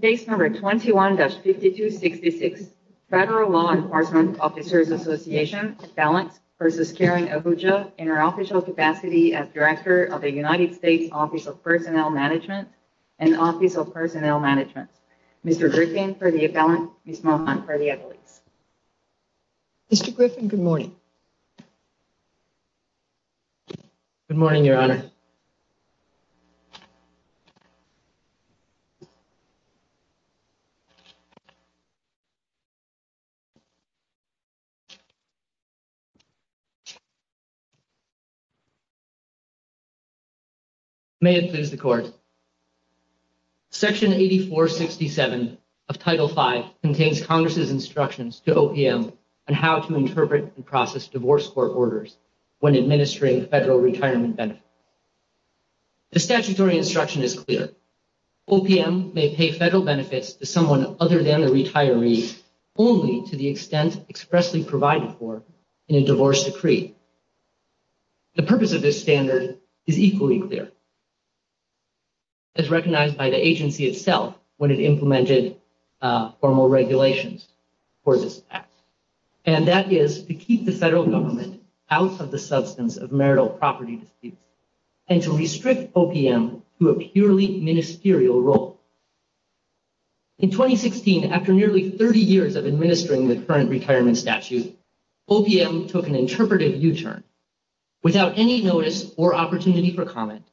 Case number 21-5266 Federal Law Enforcement Officers Association appellant versus Kiran Ahuja in her official capacity as Director of the United States Office of Personnel Management and Office of Personnel Management. Mr. Griffin for the appellant, Ms. Mohan for the evidence. Mr. Griffin, good morning. Good morning, Your Honor. May it please the Court. Section 8467 of Title V contains Congress' instructions to OPM on how to interpret and process divorce court orders when administering federal retirement benefits. The statutory instruction is clear. OPM may pay federal benefits to someone other than the retiree only to the extent expressly provided for in a divorce decree. The purpose of this standard is equally clear as recognized by the agency itself when it implemented formal regulations for this act, and that is to keep the federal government out of the substance of marital property disputes. And to restrict OPM to a purely ministerial role. In 2016, after nearly 30 years of administering the current retirement statute, OPM took an interpretive U-turn. Without any notice or opportunity for comment,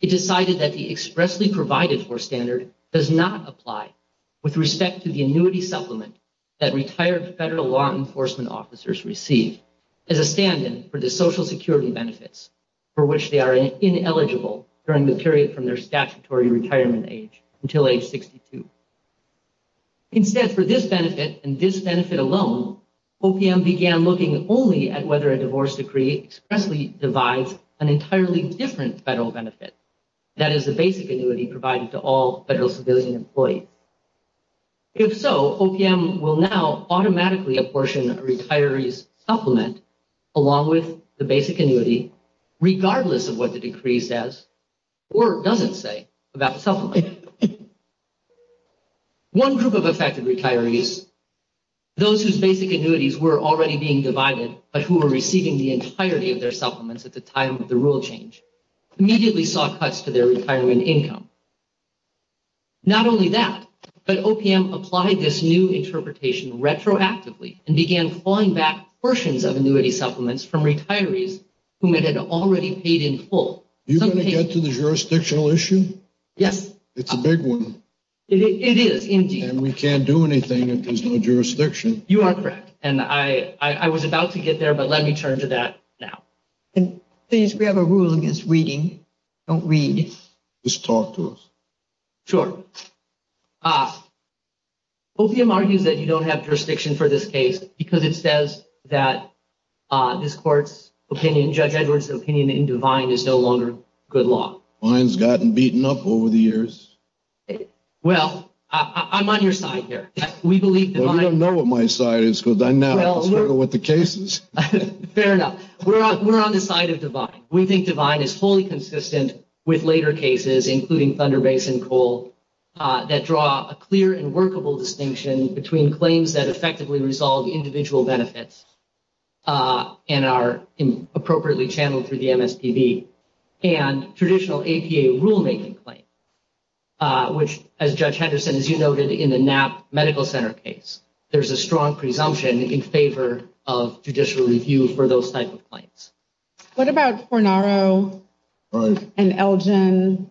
it decided that the expressly provided for standard does not apply with respect to the annuity supplement that retired federal law enforcement officers receive as a stand-in for the social security benefits for which they are ineligible during the period from their statutory retirement age until age 62. Instead, for this benefit and this benefit alone, OPM began looking only at whether a divorce decree expressly divides an entirely different federal benefit, that is, the basic annuity provided to all federal civilian employees. If so, OPM will now automatically apportion a retiree's supplement along with the basic annuity, regardless of what the decree says or doesn't say about the supplement. One group of affected retirees, those whose basic annuities were already being divided, but who were receiving the entirety of their supplements at the time of the rule change, immediately saw cuts to their retirement income. Not only that, but OPM applied this new interpretation retroactively and began clawing back portions of annuity supplements from retirees whom it had already paid in full. You're going to get to the jurisdictional issue? Yes. It's a big one. It is, indeed. And we can't do anything if there's no jurisdiction? You are correct. And I was about to get there, but let me turn to that now. And please, we have a rule against reading. Don't read. Just talk to us. Sure. Ah. OPM argues that you don't have jurisdiction for this case because it says that this court's opinion, Judge Edwards' opinion, in Devine is no longer good law. Mine's gotten beaten up over the years. Well, I'm on your side here. We believe Devine- Well, you don't know what my side is, because I'm now concerned with the cases. Fair enough. We're on the side of Devine. We think Devine is wholly consistent with later cases, including Thunder Basin Coal, that draw a clear and workable distinction between claims that effectively resolve individual benefits and are appropriately channeled through the MSPB, and traditional APA rulemaking claim, which, as Judge Henderson, as you noted, in the Knapp Medical Center case, there's a strong presumption in favor of judicial review for those type of claims. What about Fornaro and Elgin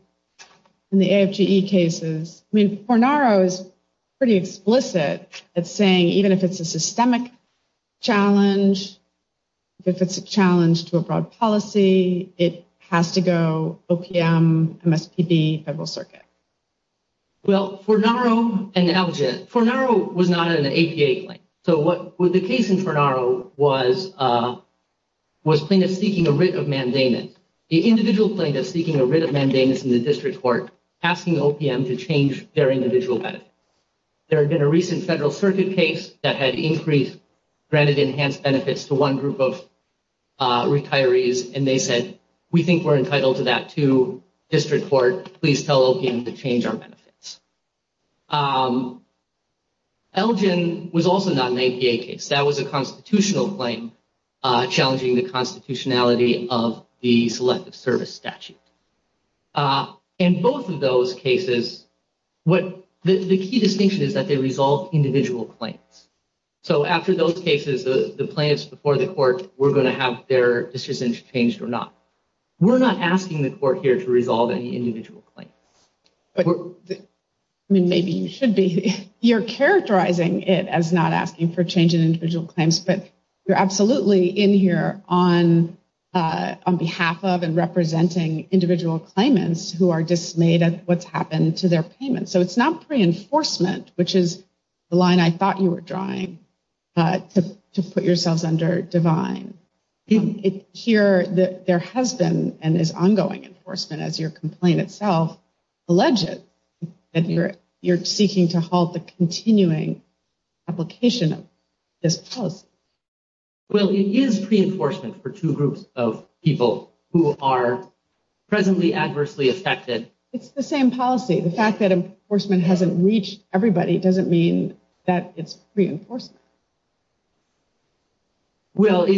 in the AFGE cases? I mean, Fornaro is pretty explicit at saying even if it's a systemic challenge, if it's a challenge to a broad policy, it has to go OPM, MSPB, Federal Circuit. Well, Fornaro and Elgin, Fornaro was not an APA claim. So what the case in Fornaro was plaintiff seeking a writ of mandamus. The individual plaintiff seeking a writ of mandamus in the district court, asking OPM to change their individual benefit. There had been a recent Federal Circuit case that had increased, granted enhanced benefits to one group of retirees, and they said, we think we're entitled to that too, Elgin was also not an APA case. That was a constitutional claim challenging the constitutionality of the Selective Service Statute. In both of those cases, the key distinction is that they resolve individual claims. So after those cases, the plaintiffs before the court were going to have their decision changed or not. We're not asking the court here to resolve any individual claim. I mean, maybe you should be. You're characterizing it as not asking for change in individual claims, but you're absolutely in here on behalf of and representing individual claimants who are dismayed at what's happened to their payments. So it's not pre-enforcement, which is the line I thought you were drawing, to put yourselves under divine. Here, there has been, and is ongoing enforcement as your complaint itself, alleged that you're seeking to halt the continuing application of this policy. Well, it is pre-enforcement for two groups of people who are presently adversely affected. It's the same policy. The fact that enforcement hasn't reached everybody doesn't mean that it's pre-enforcement. Well, it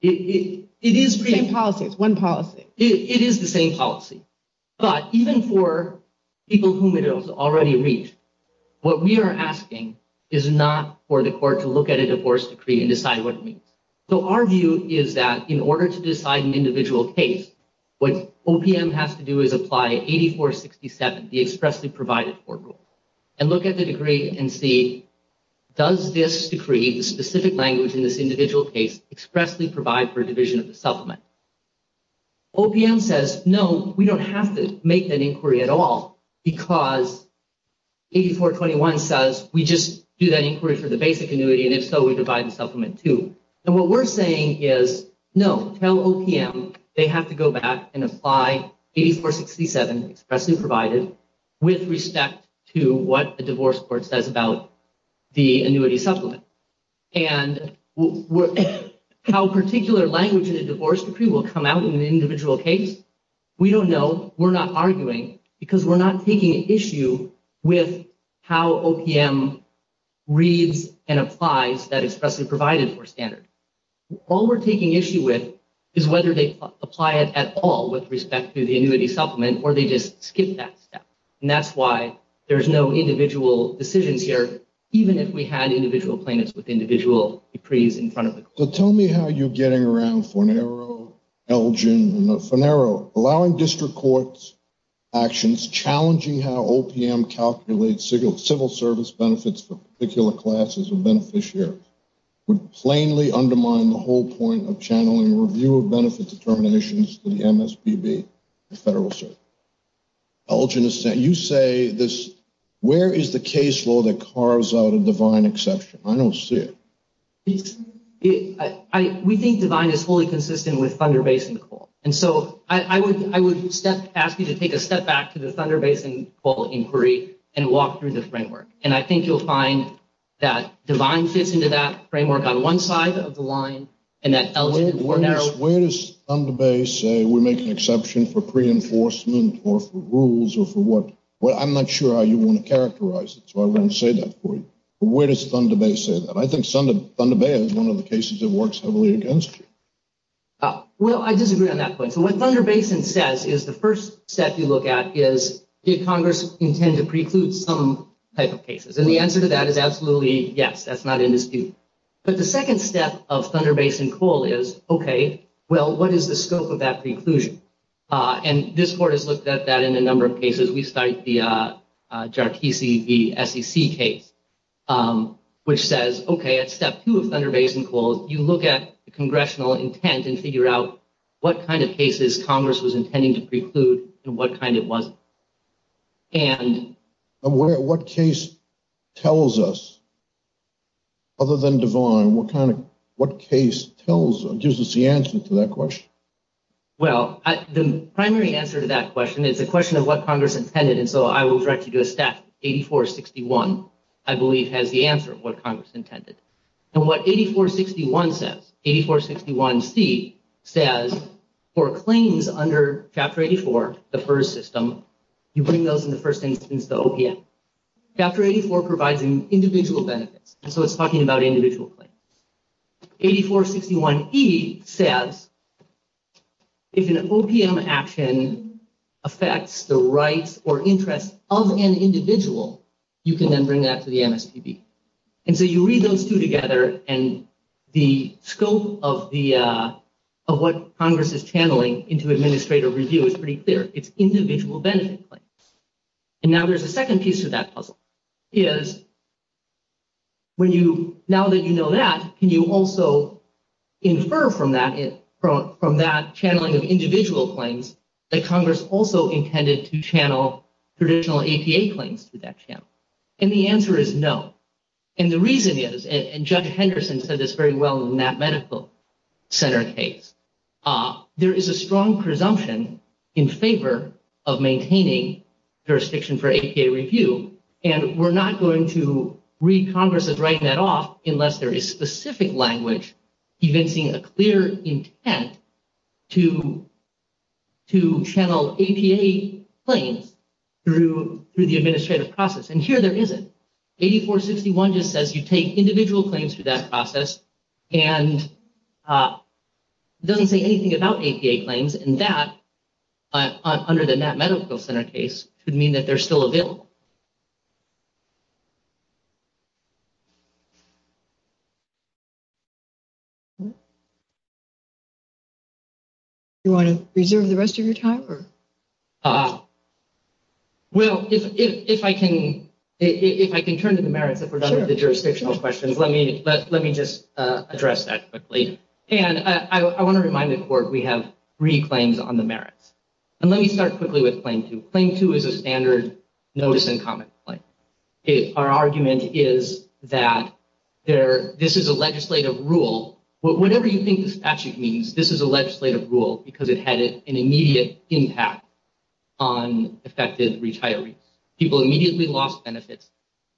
is pre-enforcement. Same policy. It's one policy. It is the same policy. But even for people whom it has already reached, what we are asking is not for the court to look at a divorce decree and decide what it means. So our view is that in order to decide an individual case, what OPM has to do is apply 8467, the expressly provided court rule, and look at the decree and see, does this decree, the specific language in this individual case, expressly provide for a division of the supplement? OPM says, no, we don't have to make that inquiry at all because 8421 says, we just do that inquiry for the basic annuity, and if so, we divide the supplement too. And what we're saying is, no, tell OPM they have to go back and apply 8467, expressly provided, with respect to what the divorce court says about the annuity supplement. And how particular language in a divorce decree will come out in an individual case, we don't know. We're not arguing because we're not taking an issue with how OPM reads and applies that expressly provided for standard. All we're taking issue with is whether they apply it at all with respect to the annuity supplement, or they just skip that step. And that's why there's no individual decisions here, even if we had individual plaintiffs with individual decrees in front of the court. So tell me how you're getting around Fornero, Elgin, Fornero. Allowing district courts actions challenging how OPM calculates civil service benefits for particular classes of beneficiaries would plainly undermine the whole point of channeling review of benefit determinations to the MSPB, the federal service. Elgin, you say this, where is the case law that carves out a divine exception? I don't see it. We think divine is wholly consistent with Thunder Basin Call. And so I would ask you to take a step back to the Thunder Basin Call inquiry and walk through the framework. And I think you'll find that divine fits into that framework on one side of the line. Elgin, Fornero. Where does Thunder Bay say we make an exception for pre-enforcement or for rules or for what? I'm not sure how you want to characterize it. So I'm going to say that for you. Where does Thunder Bay say that? I think Thunder Bay is one of the cases that works heavily against you. Well, I disagree on that point. So what Thunder Basin says is the first step you look at is, did Congress intend to preclude some type of cases? And the answer to that is absolutely yes, that's not in dispute. But the second step of Thunder Basin Call is, OK, well, what is the scope of that preclusion? And this court has looked at that in a number of cases. We cite the Jartici v. SEC case, which says, OK, at step two of Thunder Basin Call, you look at the congressional intent and figure out what kind of cases Congress was intending to preclude and what kind it wasn't. And what case tells us, other than Devine, what kind of, what case tells or gives us the answer to that question? Well, the primary answer to that question is the question of what Congress intended. And so I will direct you to a stat. 8461, I believe, has the answer of what Congress intended. And what 8461 says, 8461C says, for claims under Chapter 84, the FERS system, you bring those in the first instance to OPM. Chapter 84 provides individual benefits. So it's talking about individual claims. 8461E says, if an OPM action affects the rights or interests of an individual, you can then bring that to the MSTB. And so you read those two together, and the scope of what Congress is And so that's the first piece of that answer. It's individual benefit claims. And now there's a second piece to that puzzle, is when you, now that you know that, can you also infer from that, from that channeling of individual claims that Congress also intended to channel traditional APA claims to that channel? And the answer is no. And the reason is, and Judge Henderson said this very well in that Medical Center case, there is a strong presumption in favor of maintaining jurisdiction for APA review. And we're not going to read Congress as writing that off unless there is specific language convincing a clear intent to channel APA claims through the administrative process. And here there isn't. 8461 just says you take individual claims through that process. And it doesn't say anything about APA claims. And that, under the NAP Medical Center case, could mean that they're still available. You want to reserve the rest of your time? Well, if I can, if I can turn to the merits of the jurisdictional questions, let me, let me just address that quickly. And I want to remind the court, we have three claims on the merits. And let me start quickly with claim two. Claim two is a standard notice and comment claim. Our argument is that there, this is a legislative rule, whatever you think the statute means, this is a legislative rule because it had an immediate impact on affected retirees. People immediately lost benefits.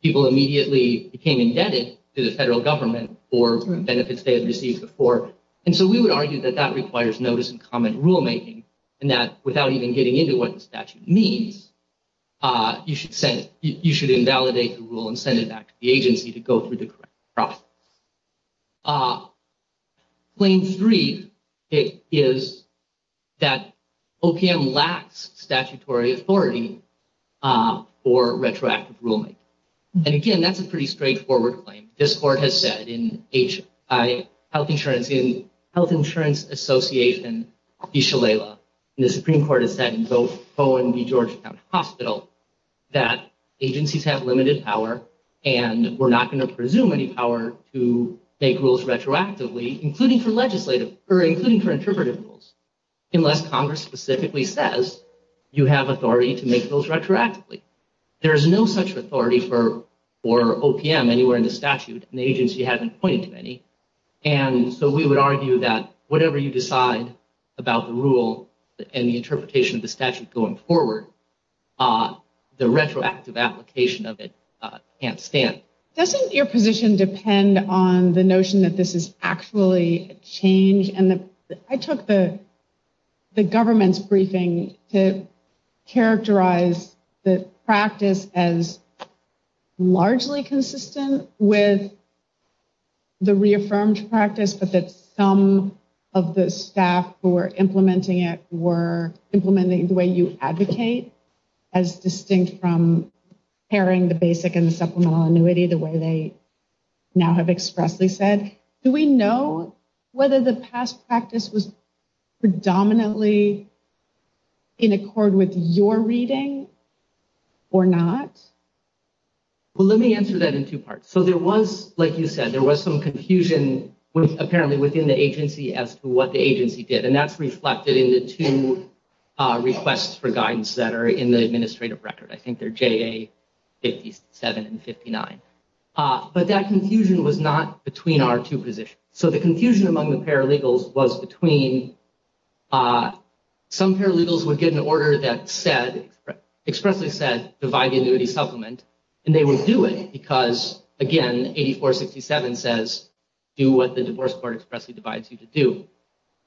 People immediately became indebted to the federal government for benefits they had received before. And so we would argue that that requires notice and comment rulemaking. And that without even getting into what the statute means, you should send, you should invalidate the rule and send it back to the agency to go through the correct process. Claim three is that OPM lacks statutory authority for retroactive rulemaking. And again, that's a pretty straightforward claim. This court has said in Health Insurance Association, the Supreme Court has said in both Bowen v. Georgetown Hospital, that agencies have limited power and we're not going to presume any power to make rules retroactively, including for legislative or including for interpretive rules. Unless Congress specifically says, you have authority to make those retroactively. There is no such authority for OPM anywhere in the statute. And the agency hasn't pointed to any. And so we would argue that whatever you decide about the rule and the interpretation of the statute going forward, the retroactive application of it can't stand. Doesn't your position depend on the notion that this is actually a change? And I took the government's briefing to characterize the practice as largely consistent with the reaffirmed practice, but that some of the staff who were implementing it in the way you advocate, as distinct from pairing the basic and the supplemental annuity, the way they now have expressly said. Do we know whether the past practice was predominantly in accord with your reading or not? Well, let me answer that in two parts. So there was, like you said, there was some confusion apparently within the agency as to what the agency did. And that's reflected in the two requests for guidance that are in the administrative record. I think they're JA 57 and 59. But that confusion was not between our two positions. So the confusion among the paralegals was between some paralegals would get an order that said, expressly said, divide the annuity supplement. And they would do it because, again, 8467 says, do what the divorce court expressly divides you to do.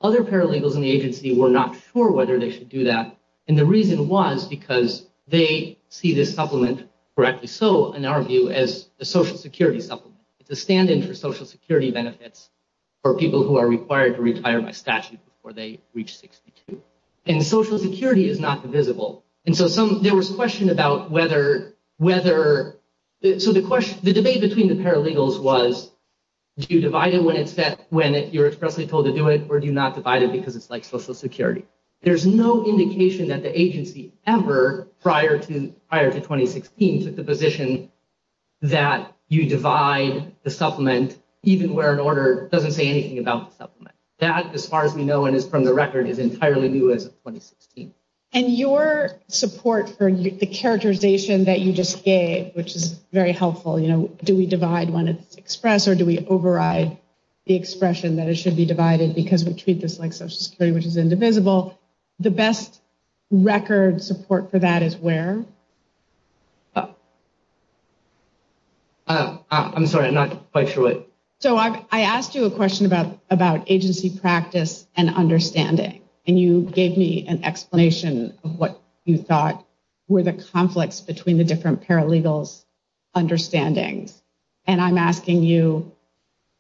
Other paralegals in the agency were not sure whether they should do that. And the reason was because they see this supplement correctly. So in our view as a social security supplement, it's a stand in for social security benefits for people who are required to retire by statute before they reach 62. And social security is not divisible. And so there was a question about whether, so the debate between the paralegals was, do you divide it when it's that, or do you not divide it because it's like social security? There's no indication that the agency ever, prior to 2016, took the position that you divide the supplement even where an order doesn't say anything about the supplement. That, as far as we know and is from the record, is entirely new as of 2016. And your support for the characterization that you just gave, which is very helpful, you know, do we divide when it's expressed or do we override the expression that it should be divided because we treat this like social security, which is indivisible? The best record support for that is where? Oh, I'm sorry, I'm not quite sure what. So I asked you a question about agency practice and understanding. And you gave me an explanation of what you thought were the conflicts between the different paralegals' understandings. And I'm asking you,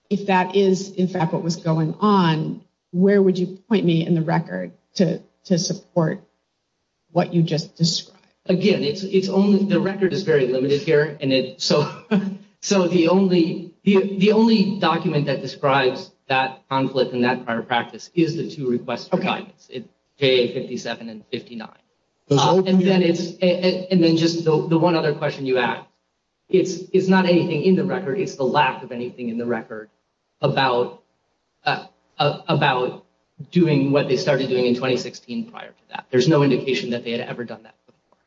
if that is, in fact, what was going on, where would you point me in the record to support what you just described? Again, it's only, the record is very limited here. And so the only document that describes that conflict and that prior practice is the two requests for guidance, JA57 and 59. And then just the one other question you asked, it's not anything in the record, it's the lack of anything in the record about doing what they started doing in 2016 prior to that. There's no indication that they had ever done that before.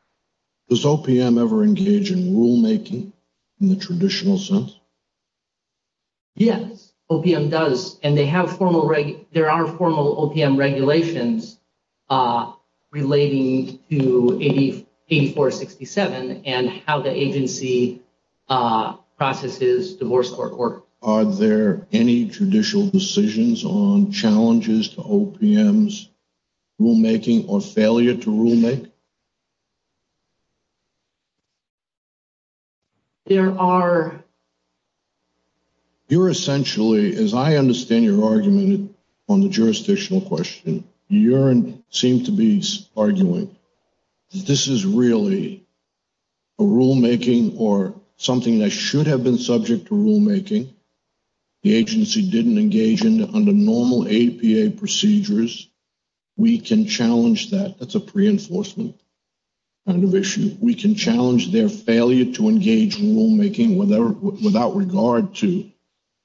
Does OPM ever engage in rulemaking in the traditional sense? Yes, OPM does. And they have formal, there are formal OPM regulations relating to 8467 and how the agency processes divorce court work. Are there any judicial decisions on challenges to OPM's rulemaking or failure to rulemake? There are. You're essentially, as I understand your argument on the jurisdictional question, you seem to be arguing that this is really a rulemaking or something that should have been subject to rulemaking. The agency didn't engage in under normal APA procedures. We can challenge that. That's a pre-enforcement kind of issue. We can challenge their failure to engage in rulemaking without regard to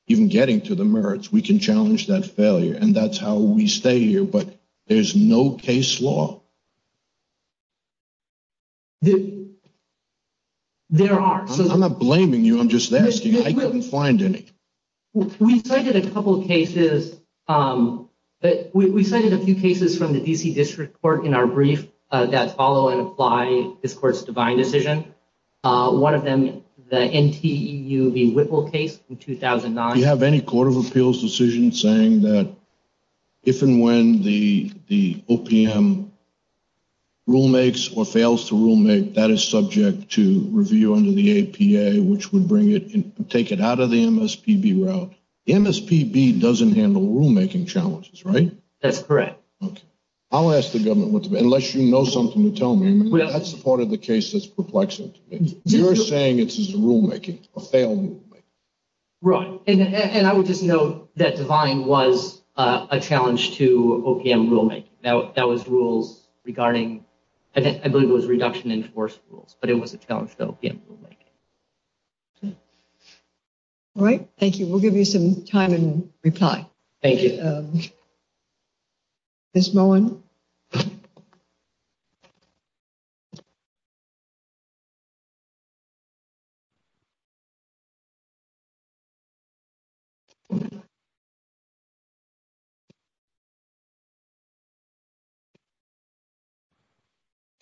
even getting to the merits. We can challenge that failure and that's how we stay here. There's no case law. There are. I'm not blaming you. I'm just asking. I couldn't find any. We cited a couple of cases. We cited a few cases from the DC District Court in our brief that follow and apply this court's divine decision. One of them, the NTEU v. Whipple case in 2009. Do you have any Court of Appeals decision saying that if and when the OPM rulemakes or fails to rulemake, that is subject to review under the APA, which would bring it and take it out of the MSPB route? The MSPB doesn't handle rulemaking challenges, right? That's correct. Okay. I'll ask the government what to do, unless you know something to tell me. That's the part of the case that's perplexing to me. You're saying it's a rulemaking, a failed rulemaking. Right. And I would just note that divine was a challenge to OPM rulemaking. That was rules regarding, I believe it was reduction in force rules, but it was a challenge to OPM rulemaking. All right. Thank you. We'll give you some time and reply. Thank you. Ms. Moen.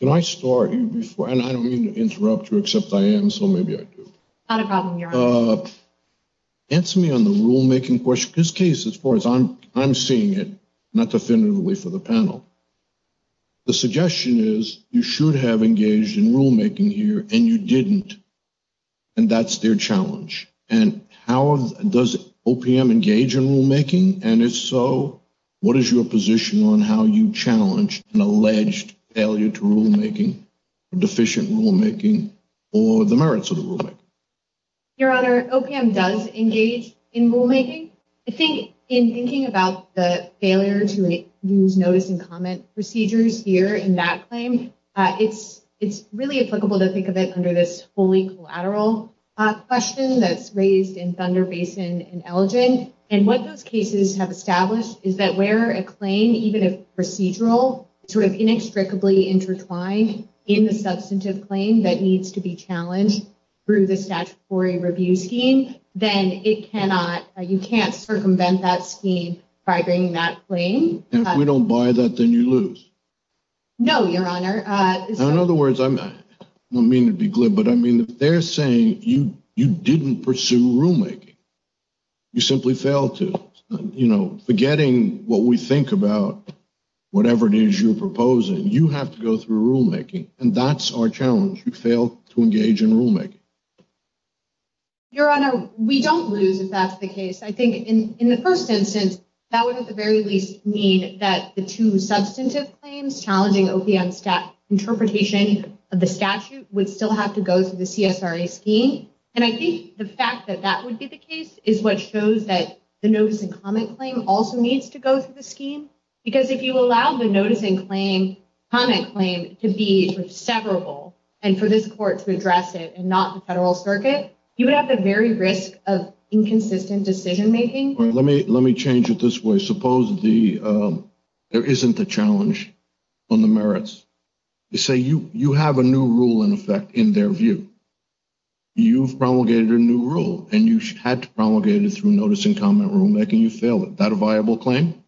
Can I start you before, and I don't mean to interrupt you, except I am, so maybe I do. Not a problem. Answer me on the rulemaking question. This case, as far as I'm seeing it, not definitively for the panel, the suggestion is you should have engaged in rulemaking here and you didn't. And that's their challenge. And how does OPM engage in rulemaking? And if so, what is your position on how you challenge an alleged failure to rulemaking, deficient rulemaking, or the merits of the rulemaking? Your Honor, OPM does engage in rulemaking. I think in thinking about the failure to use notice and comment procedures here in that claim, it's really applicable to think of it under this fully collateral question that's raised in Thunder Basin and Elgin. And what those cases have established is that where a claim, even if procedural, sort of inextricably intertwined in the substantive claim that needs to be challenged through the statutory review scheme, then it cannot, you can't circumvent that scheme by bringing that claim. And if we don't buy that, then you lose. No, Your Honor. In other words, I don't mean to be glib, but I mean, if they're saying you didn't pursue rulemaking, you simply failed to, you know, forgetting what we think about whatever it is you're proposing, you have to go through rulemaking. And that's our challenge. You fail to engage in rulemaking. Your Honor, we don't lose if that's the case. I think in the first instance, that would at the very least mean that the two substantive claims challenging OPM interpretation of the statute would still have to go through the CSRA scheme. And I think the fact that that would be the case is what shows that the notice and comment claim also needs to go through the scheme. Because if you allow the notice and comment claim to be severable and for this court to address it and not the federal circuit, you would have the very risk of inconsistent decision making. Let me change it this way. Suppose there isn't a challenge on the merits. You say you have a new rule in effect in their view. You've promulgated a new rule and you had to promulgate it through notice and comment rulemaking. You failed it. That a viable claim?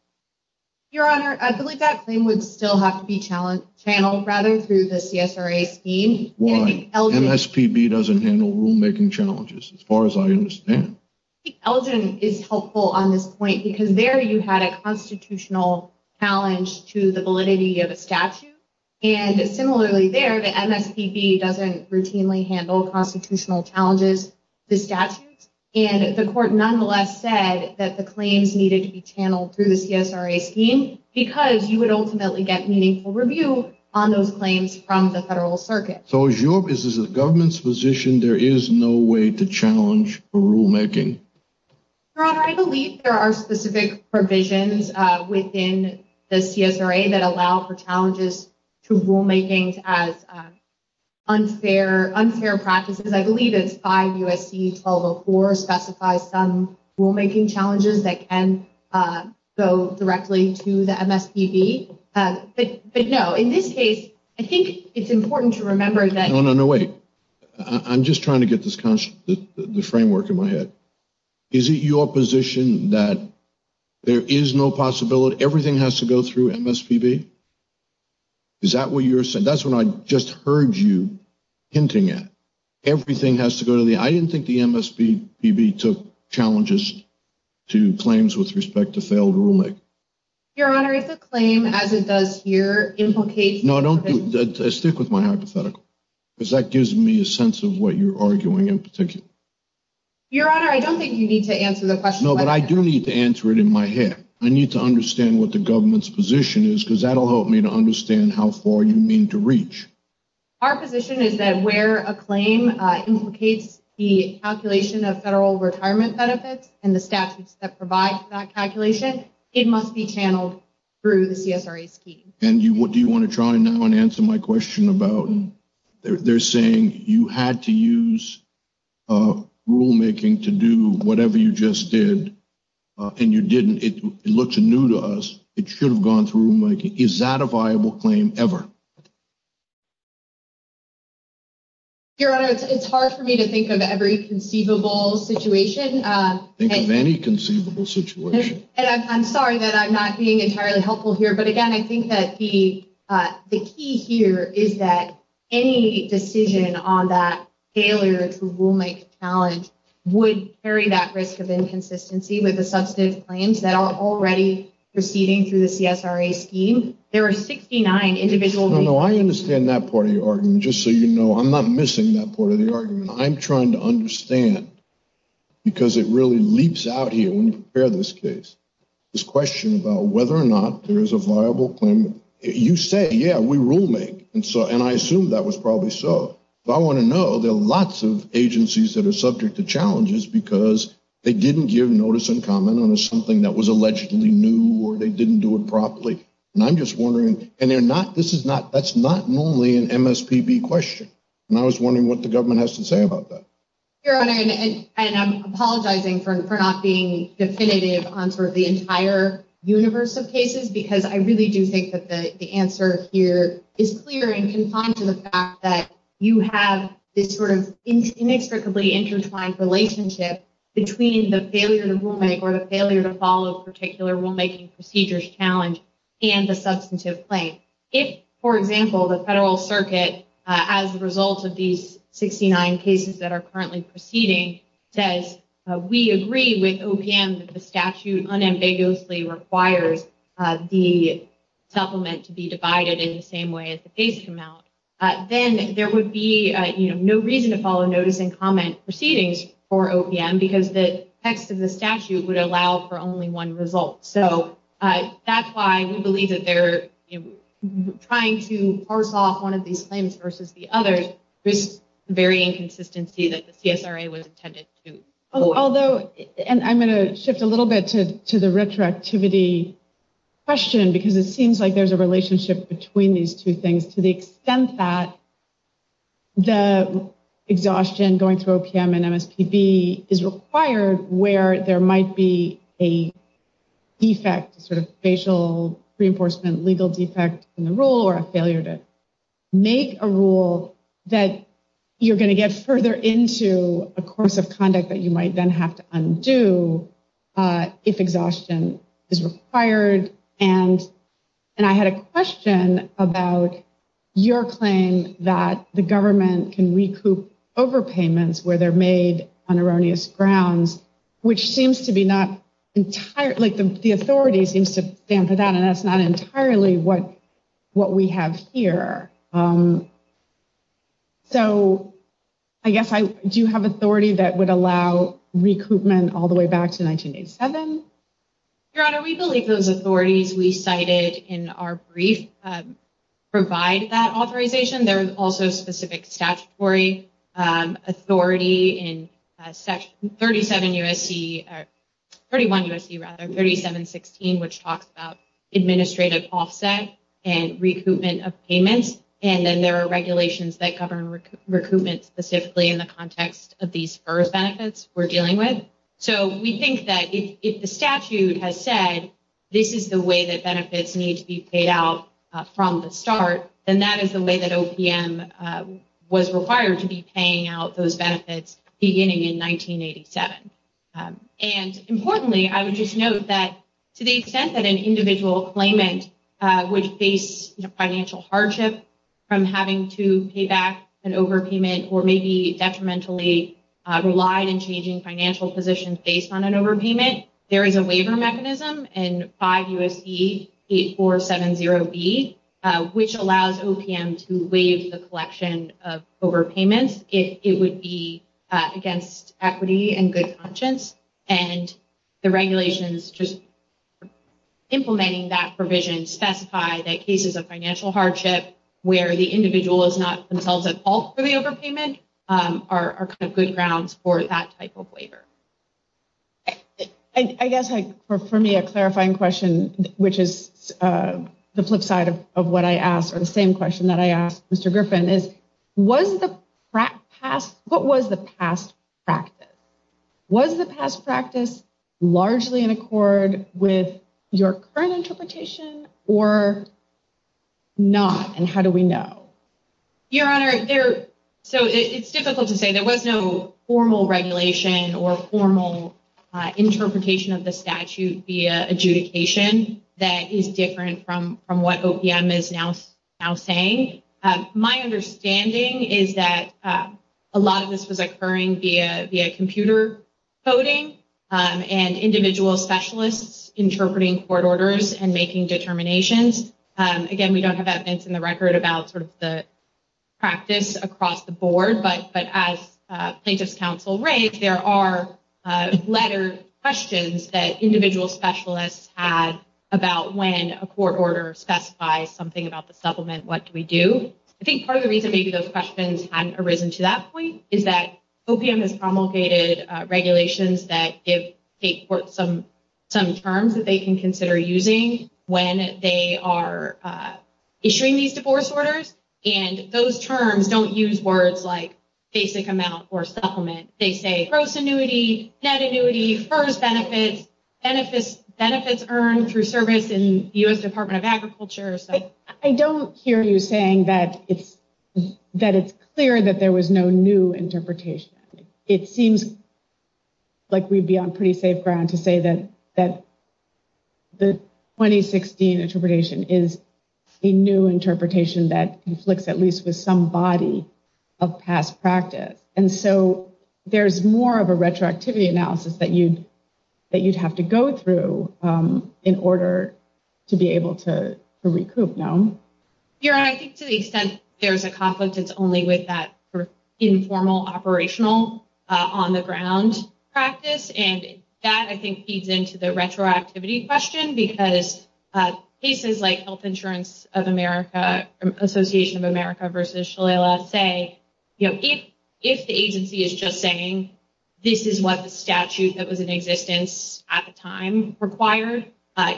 Your Honor, I believe that claim would still have to be channeled rather through the CSRA scheme. Why? MSPB doesn't handle rulemaking challenges as far as I understand. Elgin is helpful on this point because there you had a constitutional challenge to the validity of a statute. And similarly there, the MSPB doesn't routinely handle constitutional challenges to statutes. And the court nonetheless said that the claims needed to be channeled through the CSRA scheme because you would ultimately get meaningful review on those claims from the federal circuit. So as the government's position, there is no way to challenge rulemaking. Your Honor, I believe there are specific provisions within the CSRA that allow for challenges to rulemaking as unfair practices. I believe it's 5 U.S.C. 1204 specifies some rulemaking challenges that can go directly to the MSPB. But no, in this case, I think it's important to remember that- No, no, no, wait. I'm just trying to get the framework in my head. Is it your position that there is no possibility, everything has to go through MSPB? Is that what you're saying? That's what I just heard you hinting at. Everything has to go to the, I didn't think the MSPB took challenges to claims with respect to failed rulemaking. Your Honor, if a claim as it does here implicates- No, don't do that. Stick with my hypothetical because that gives me a sense of what you're arguing in particular. Your Honor, I don't think you need to answer the question- No, but I do need to answer it in my head. I need to understand what the government's position is because that'll help me to understand how far you mean to reach. Our position is that where a claim implicates the calculation of federal retirement benefits and the statutes that provide for that calculation, it must be channeled through the CSRA scheme. And what do you want to try now and answer my question about? They're saying you had to use rulemaking to do whatever you just did and you didn't. It looks new to us. It should have gone through rulemaking. Is that a viable claim ever? Your Honor, it's hard for me to think of every conceivable situation. Think of any conceivable situation. And I'm sorry that I'm not being entirely helpful here. But again, I think that the key here is that any decision on that failure to rulemake challenge would carry that risk of inconsistency with the substantive claims that are already proceeding through the CSRA scheme. There are 69 individual- No, no, I understand that part of your argument. Just so you know, I'm not missing that part of the argument. I'm trying to understand, because it really leaps out here when you prepare this case, this question about whether or not there is a viable claim. You say, yeah, we rulemake. And so, and I assume that was probably so. But I want to know, there are lots of agencies that are subject to challenges because they didn't give notice and comment on something that was allegedly new or they didn't do it properly. And I'm just wondering, and they're not, this is not, that's not normally an MSPB question. And I was wondering what the government has to say about that. Your Honor, and I'm apologizing for not being definitive on sort of the entire universe of cases, because I really do think that the answer here is clear and confined to the fact that you have this sort of inextricably intertwined relationship between the failure to rulemake or the failure to follow particular rulemaking procedures challenge and the substantive claim. If, for example, the federal circuit, as a result of these 69 cases that are currently proceeding, says we agree with OPM that the statute unambiguously requires the supplement to be divided in the same way as the case amount, then there would be no reason to follow notice and comment proceedings for OPM because the text of the statute would allow for only one result. So that's why we believe that they're trying to parse off one of these claims versus the other, this very inconsistency that the CSRA was intended to. Although, and I'm going to shift a little bit to the retroactivity question, because it seems like there's a relationship between these two things to the extent that the exhaustion going through OPM and MSPB is required where there might be a defect, sort of facial reinforcement, legal defect in the rule or a failure to make a rule that you're going to get further into a course of conduct that you might then have to undo if exhaustion is required. And I had a question about your claim that the government can recoup overpayments where they're made on erroneous grounds, which seems to be not entirely, like the authority seems to stand for that, and that's not entirely what we have here. So I guess, do you have authority that would allow recoupment all the way back to 1987? Your Honor, we believe those authorities we cited in our brief provide that authorization. There is also specific statutory authority in section 37 U.S.C., 31 U.S.C., rather, 3716, which talks about administrative offset and recoupment of payments, and then there are regulations that govern recoupment specifically in the context of these FERS benefits we're dealing with. So we think that if the statute has said this is the way that benefits need to be paid out from the start, then that is the way that OPM was required to be paying out those benefits beginning in 1987. And importantly, I would just note that to the extent that an individual claimant would face financial hardship from having to pay back an overpayment or maybe detrimentally relied in changing financial positions based on an overpayment, there is a waiver mechanism in 5 U.S.C. 8470B, which allows OPM to waive the collection of overpayments if it would be against equity and good conscience. And the regulations just implementing that provision specify that cases of financial hardship where the individual is not themselves at fault for the overpayment are kind of good grounds for that type of waiver. I guess for me a clarifying question, which is the flip side of what I asked, or the same question that I asked Mr. Griffin, is what was the past practice? Was the past practice largely in accord with your current interpretation or not, and how do we know? Your Honor, so it's difficult to say. There was no formal regulation or formal interpretation of the statute via adjudication that is different from what OPM is now saying. My understanding is that a lot of this was occurring via computer coding and individual specialists interpreting court orders and making determinations. Again, we don't have evidence in the record about sort of the practice across the board, but as Plaintiff's Counsel raised, there are lettered questions that individual specialists had about when a court order specifies something about the supplement, what do we do? I think part of the reason maybe those questions hadn't arisen to that point is that OPM has promulgated regulations that give state courts some terms that they can consider using when they are issuing these divorce orders, and those terms don't use words like basic amount or supplement. They say gross annuity, net annuity, FERS benefits, benefits earned through service in the U.S. Department of Agriculture. I don't hear you saying that it's clear that there was no new interpretation. It seems like we'd be on pretty safe ground to say that the 2016 interpretation is a new interpretation that conflicts at least with some body of past practice. And so there's more of a retroactivity analysis that you'd have to go through in order to be able to recoup, no? Your Honor, I think to the extent there's a conflict, it's only with that informal operational on the ground practice. And that, I think, feeds into the retroactivity question because cases like Health Insurance of America, Association of America versus Shalala say, you know, if the agency is just saying this is what the statute that was in existence at the time required,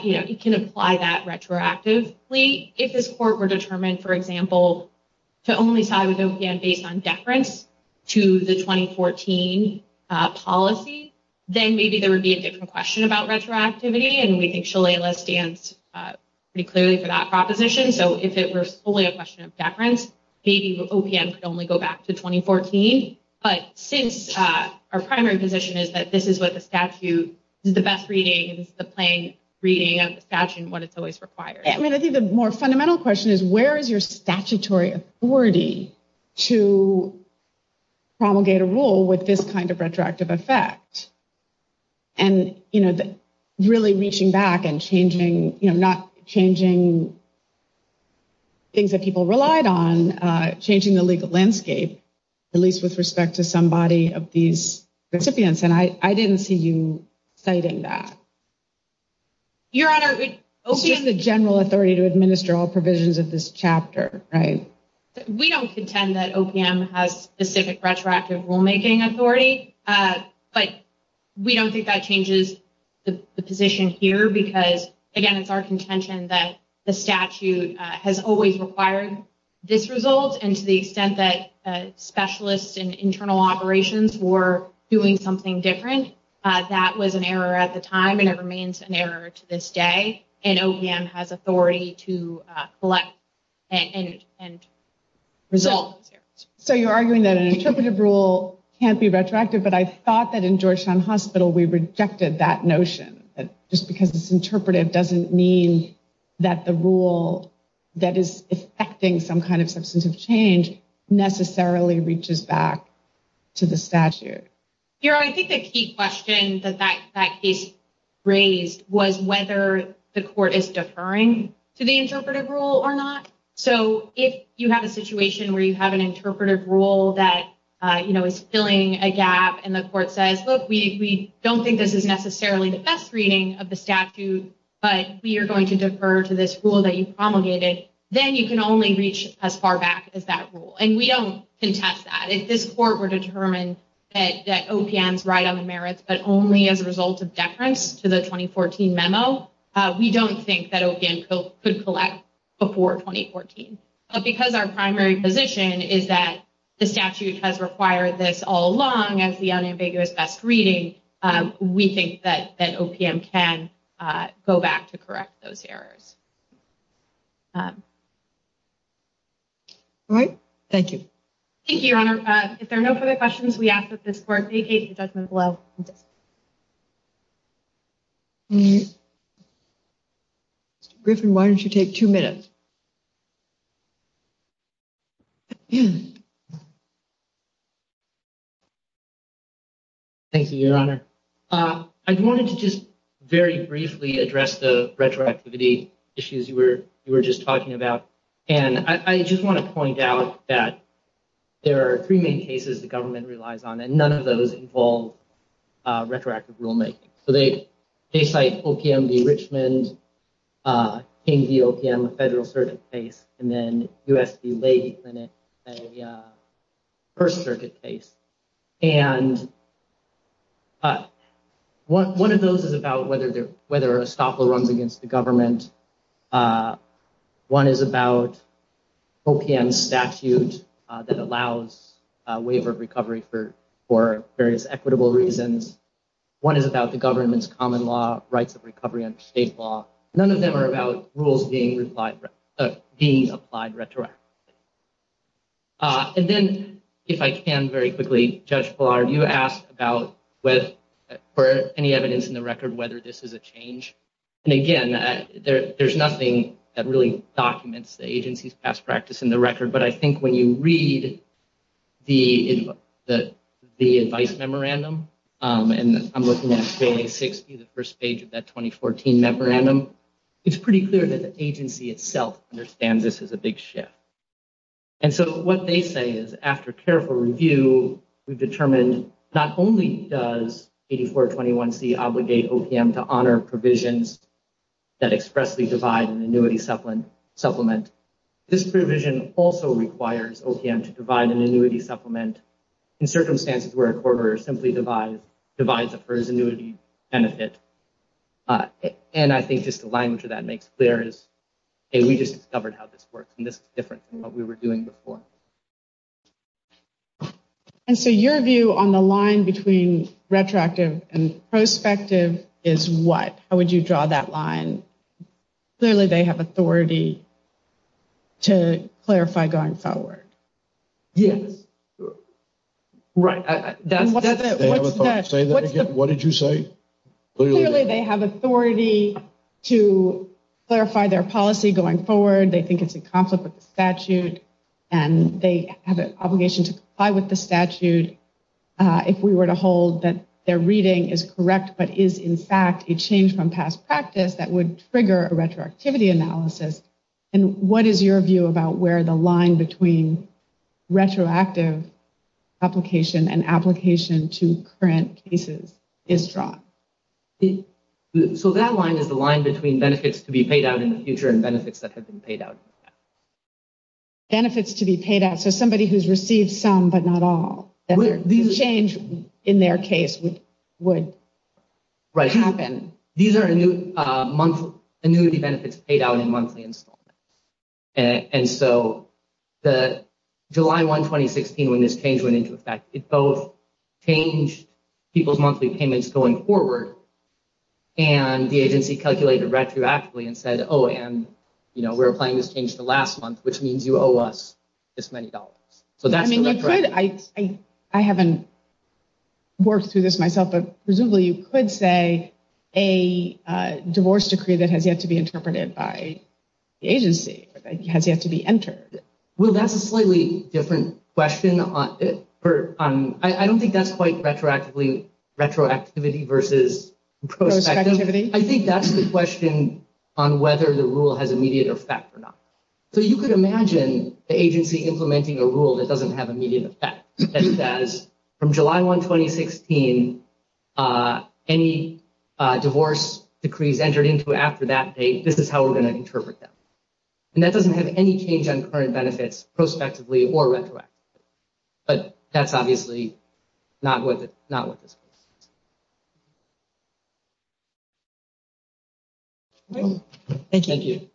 you know, it can apply that retroactively. If this court were determined, for example, to only side with OPM based on deference to the 2014 policy, then maybe there would be a different question about retroactivity. And we think Shalala stands pretty clearly for that proposition. So if it were solely a question of deference, maybe OPM could only go back to 2014. But since our primary position is that this is what the statute is the best reading and it's the plain reading of the statute and what it's always required. I mean, I think the more fundamental question is where is your statutory authority to promulgate a rule with this kind of retroactive effect? And, you know, really reaching back and changing, you know, not changing things that people relied on, changing the legal landscape, at least with respect to somebody of these recipients. And I didn't see you citing that. Your Honor, it's just the general authority to administer all provisions of this chapter, right? We don't contend that OPM has specific retroactive rulemaking authority. But we don't think that changes the position here because, again, it's our contention that the statute has always required this result. And to the extent that specialists and internal operations were doing something different, that was an error at the time and it remains an error to this day. And OPM has authority to collect and resolve. So you're arguing that an interpretive rule can't be retroactive. But I thought that in Georgetown Hospital, we rejected that notion. Just because it's interpretive doesn't mean that the rule that is affecting some kind of substantive change necessarily reaches back to the statute. Your Honor, I think the key question that that case raised was whether the court is deferring to the interpretive rule or not. So if you have a situation where you have an interpretive rule that, you know, is filling a gap and the court says, look, we don't think this is necessarily the best reading of the statute, but we are going to defer to this rule that you promulgated, then you can only reach as far back as that rule. And we don't contest that. If this court were determined that OPM's right on the merits, but only as a result of deference to the 2014 memo, we don't think that OPM could collect before 2014. But because our primary position is that the statute has required this all along as the unambiguous best reading, we think that OPM can go back to correct those errors. All right. Thank you. Thank you, Your Honor. If there are no further questions, we ask that this court vacate the judgment below. Mr. Griffin, why don't you take two minutes? Thank you, Your Honor. I wanted to just very briefly address the retroactivity issues you were just talking about. And I just want to point out that there are three main cases the government relies on, and none of those involve retroactive rulemaking. So they cite OPM v. Richmond, King v. OPM, a federal circuit case, and then U.S. v. Leahy Clinic, a first circuit case. And one of those is about whether a stopper runs against the government. And one is about OPM's statute that allows waiver of recovery for various equitable reasons. One is about the government's common law, rights of recovery under state law. None of them are about rules being applied retroactively. And then, if I can very quickly, Judge Blard, you asked about, for any evidence in the record, whether this is a change. And again, there's nothing that really documents the agency's past practice in the record. But I think when you read the advice memorandum, and I'm looking at page 60, the first page of that 2014 memorandum, it's pretty clear that the agency itself understands this is a big shift. And so what they say is, after careful review, we've determined not only does 8421C obligate OPM to honor provisions that expressly divide an annuity supplement, this provision also requires OPM to divide an annuity supplement in circumstances where a corporator simply divides up for his annuity benefit. And I think just the language of that makes clear is, hey, we just discovered how this works, and this is different than what we were doing before. And so your view on the line between retroactive and prospective is what? How would you draw that line? Clearly, they have authority to clarify going forward. Yes. Right. Say that again. What did you say? Clearly, they have authority to clarify their policy going forward. They think it's in conflict with the statute. And they have an obligation to comply with the statute if we were to hold that their reading is correct, but is, in fact, a change from past practice that would trigger a retroactivity analysis. And what is your view about where the line between retroactive application and application to current cases is drawn? So that line is the line between benefits to be paid out in the future and benefits that have been paid out. Benefits to be paid out. So somebody who's received some but not all. Change in their case would happen. These are annuity benefits paid out in monthly installments. And so July 1, 2016, when this change went into effect, it both changed people's monthly payments going forward. And the agency calculated retroactively and said, oh, and we're applying this change to last month, which means you owe us this many dollars. So that's the retroactivity. I haven't worked through this myself, but presumably you could say a divorce decree that has yet to be interpreted by the agency has yet to be entered. Well, that's a slightly different question. I don't think that's quite retroactivity versus prospective. I think that's the question on whether the rule has immediate effect or not. So you could imagine the agency implementing a rule that doesn't have immediate effect. And that is from July 1, 2016, any divorce decrees entered into after that date, this is how we're going to interpret that. And that doesn't have any change on current benefits, prospectively or retroactively. But that's obviously not what this is. Thank you.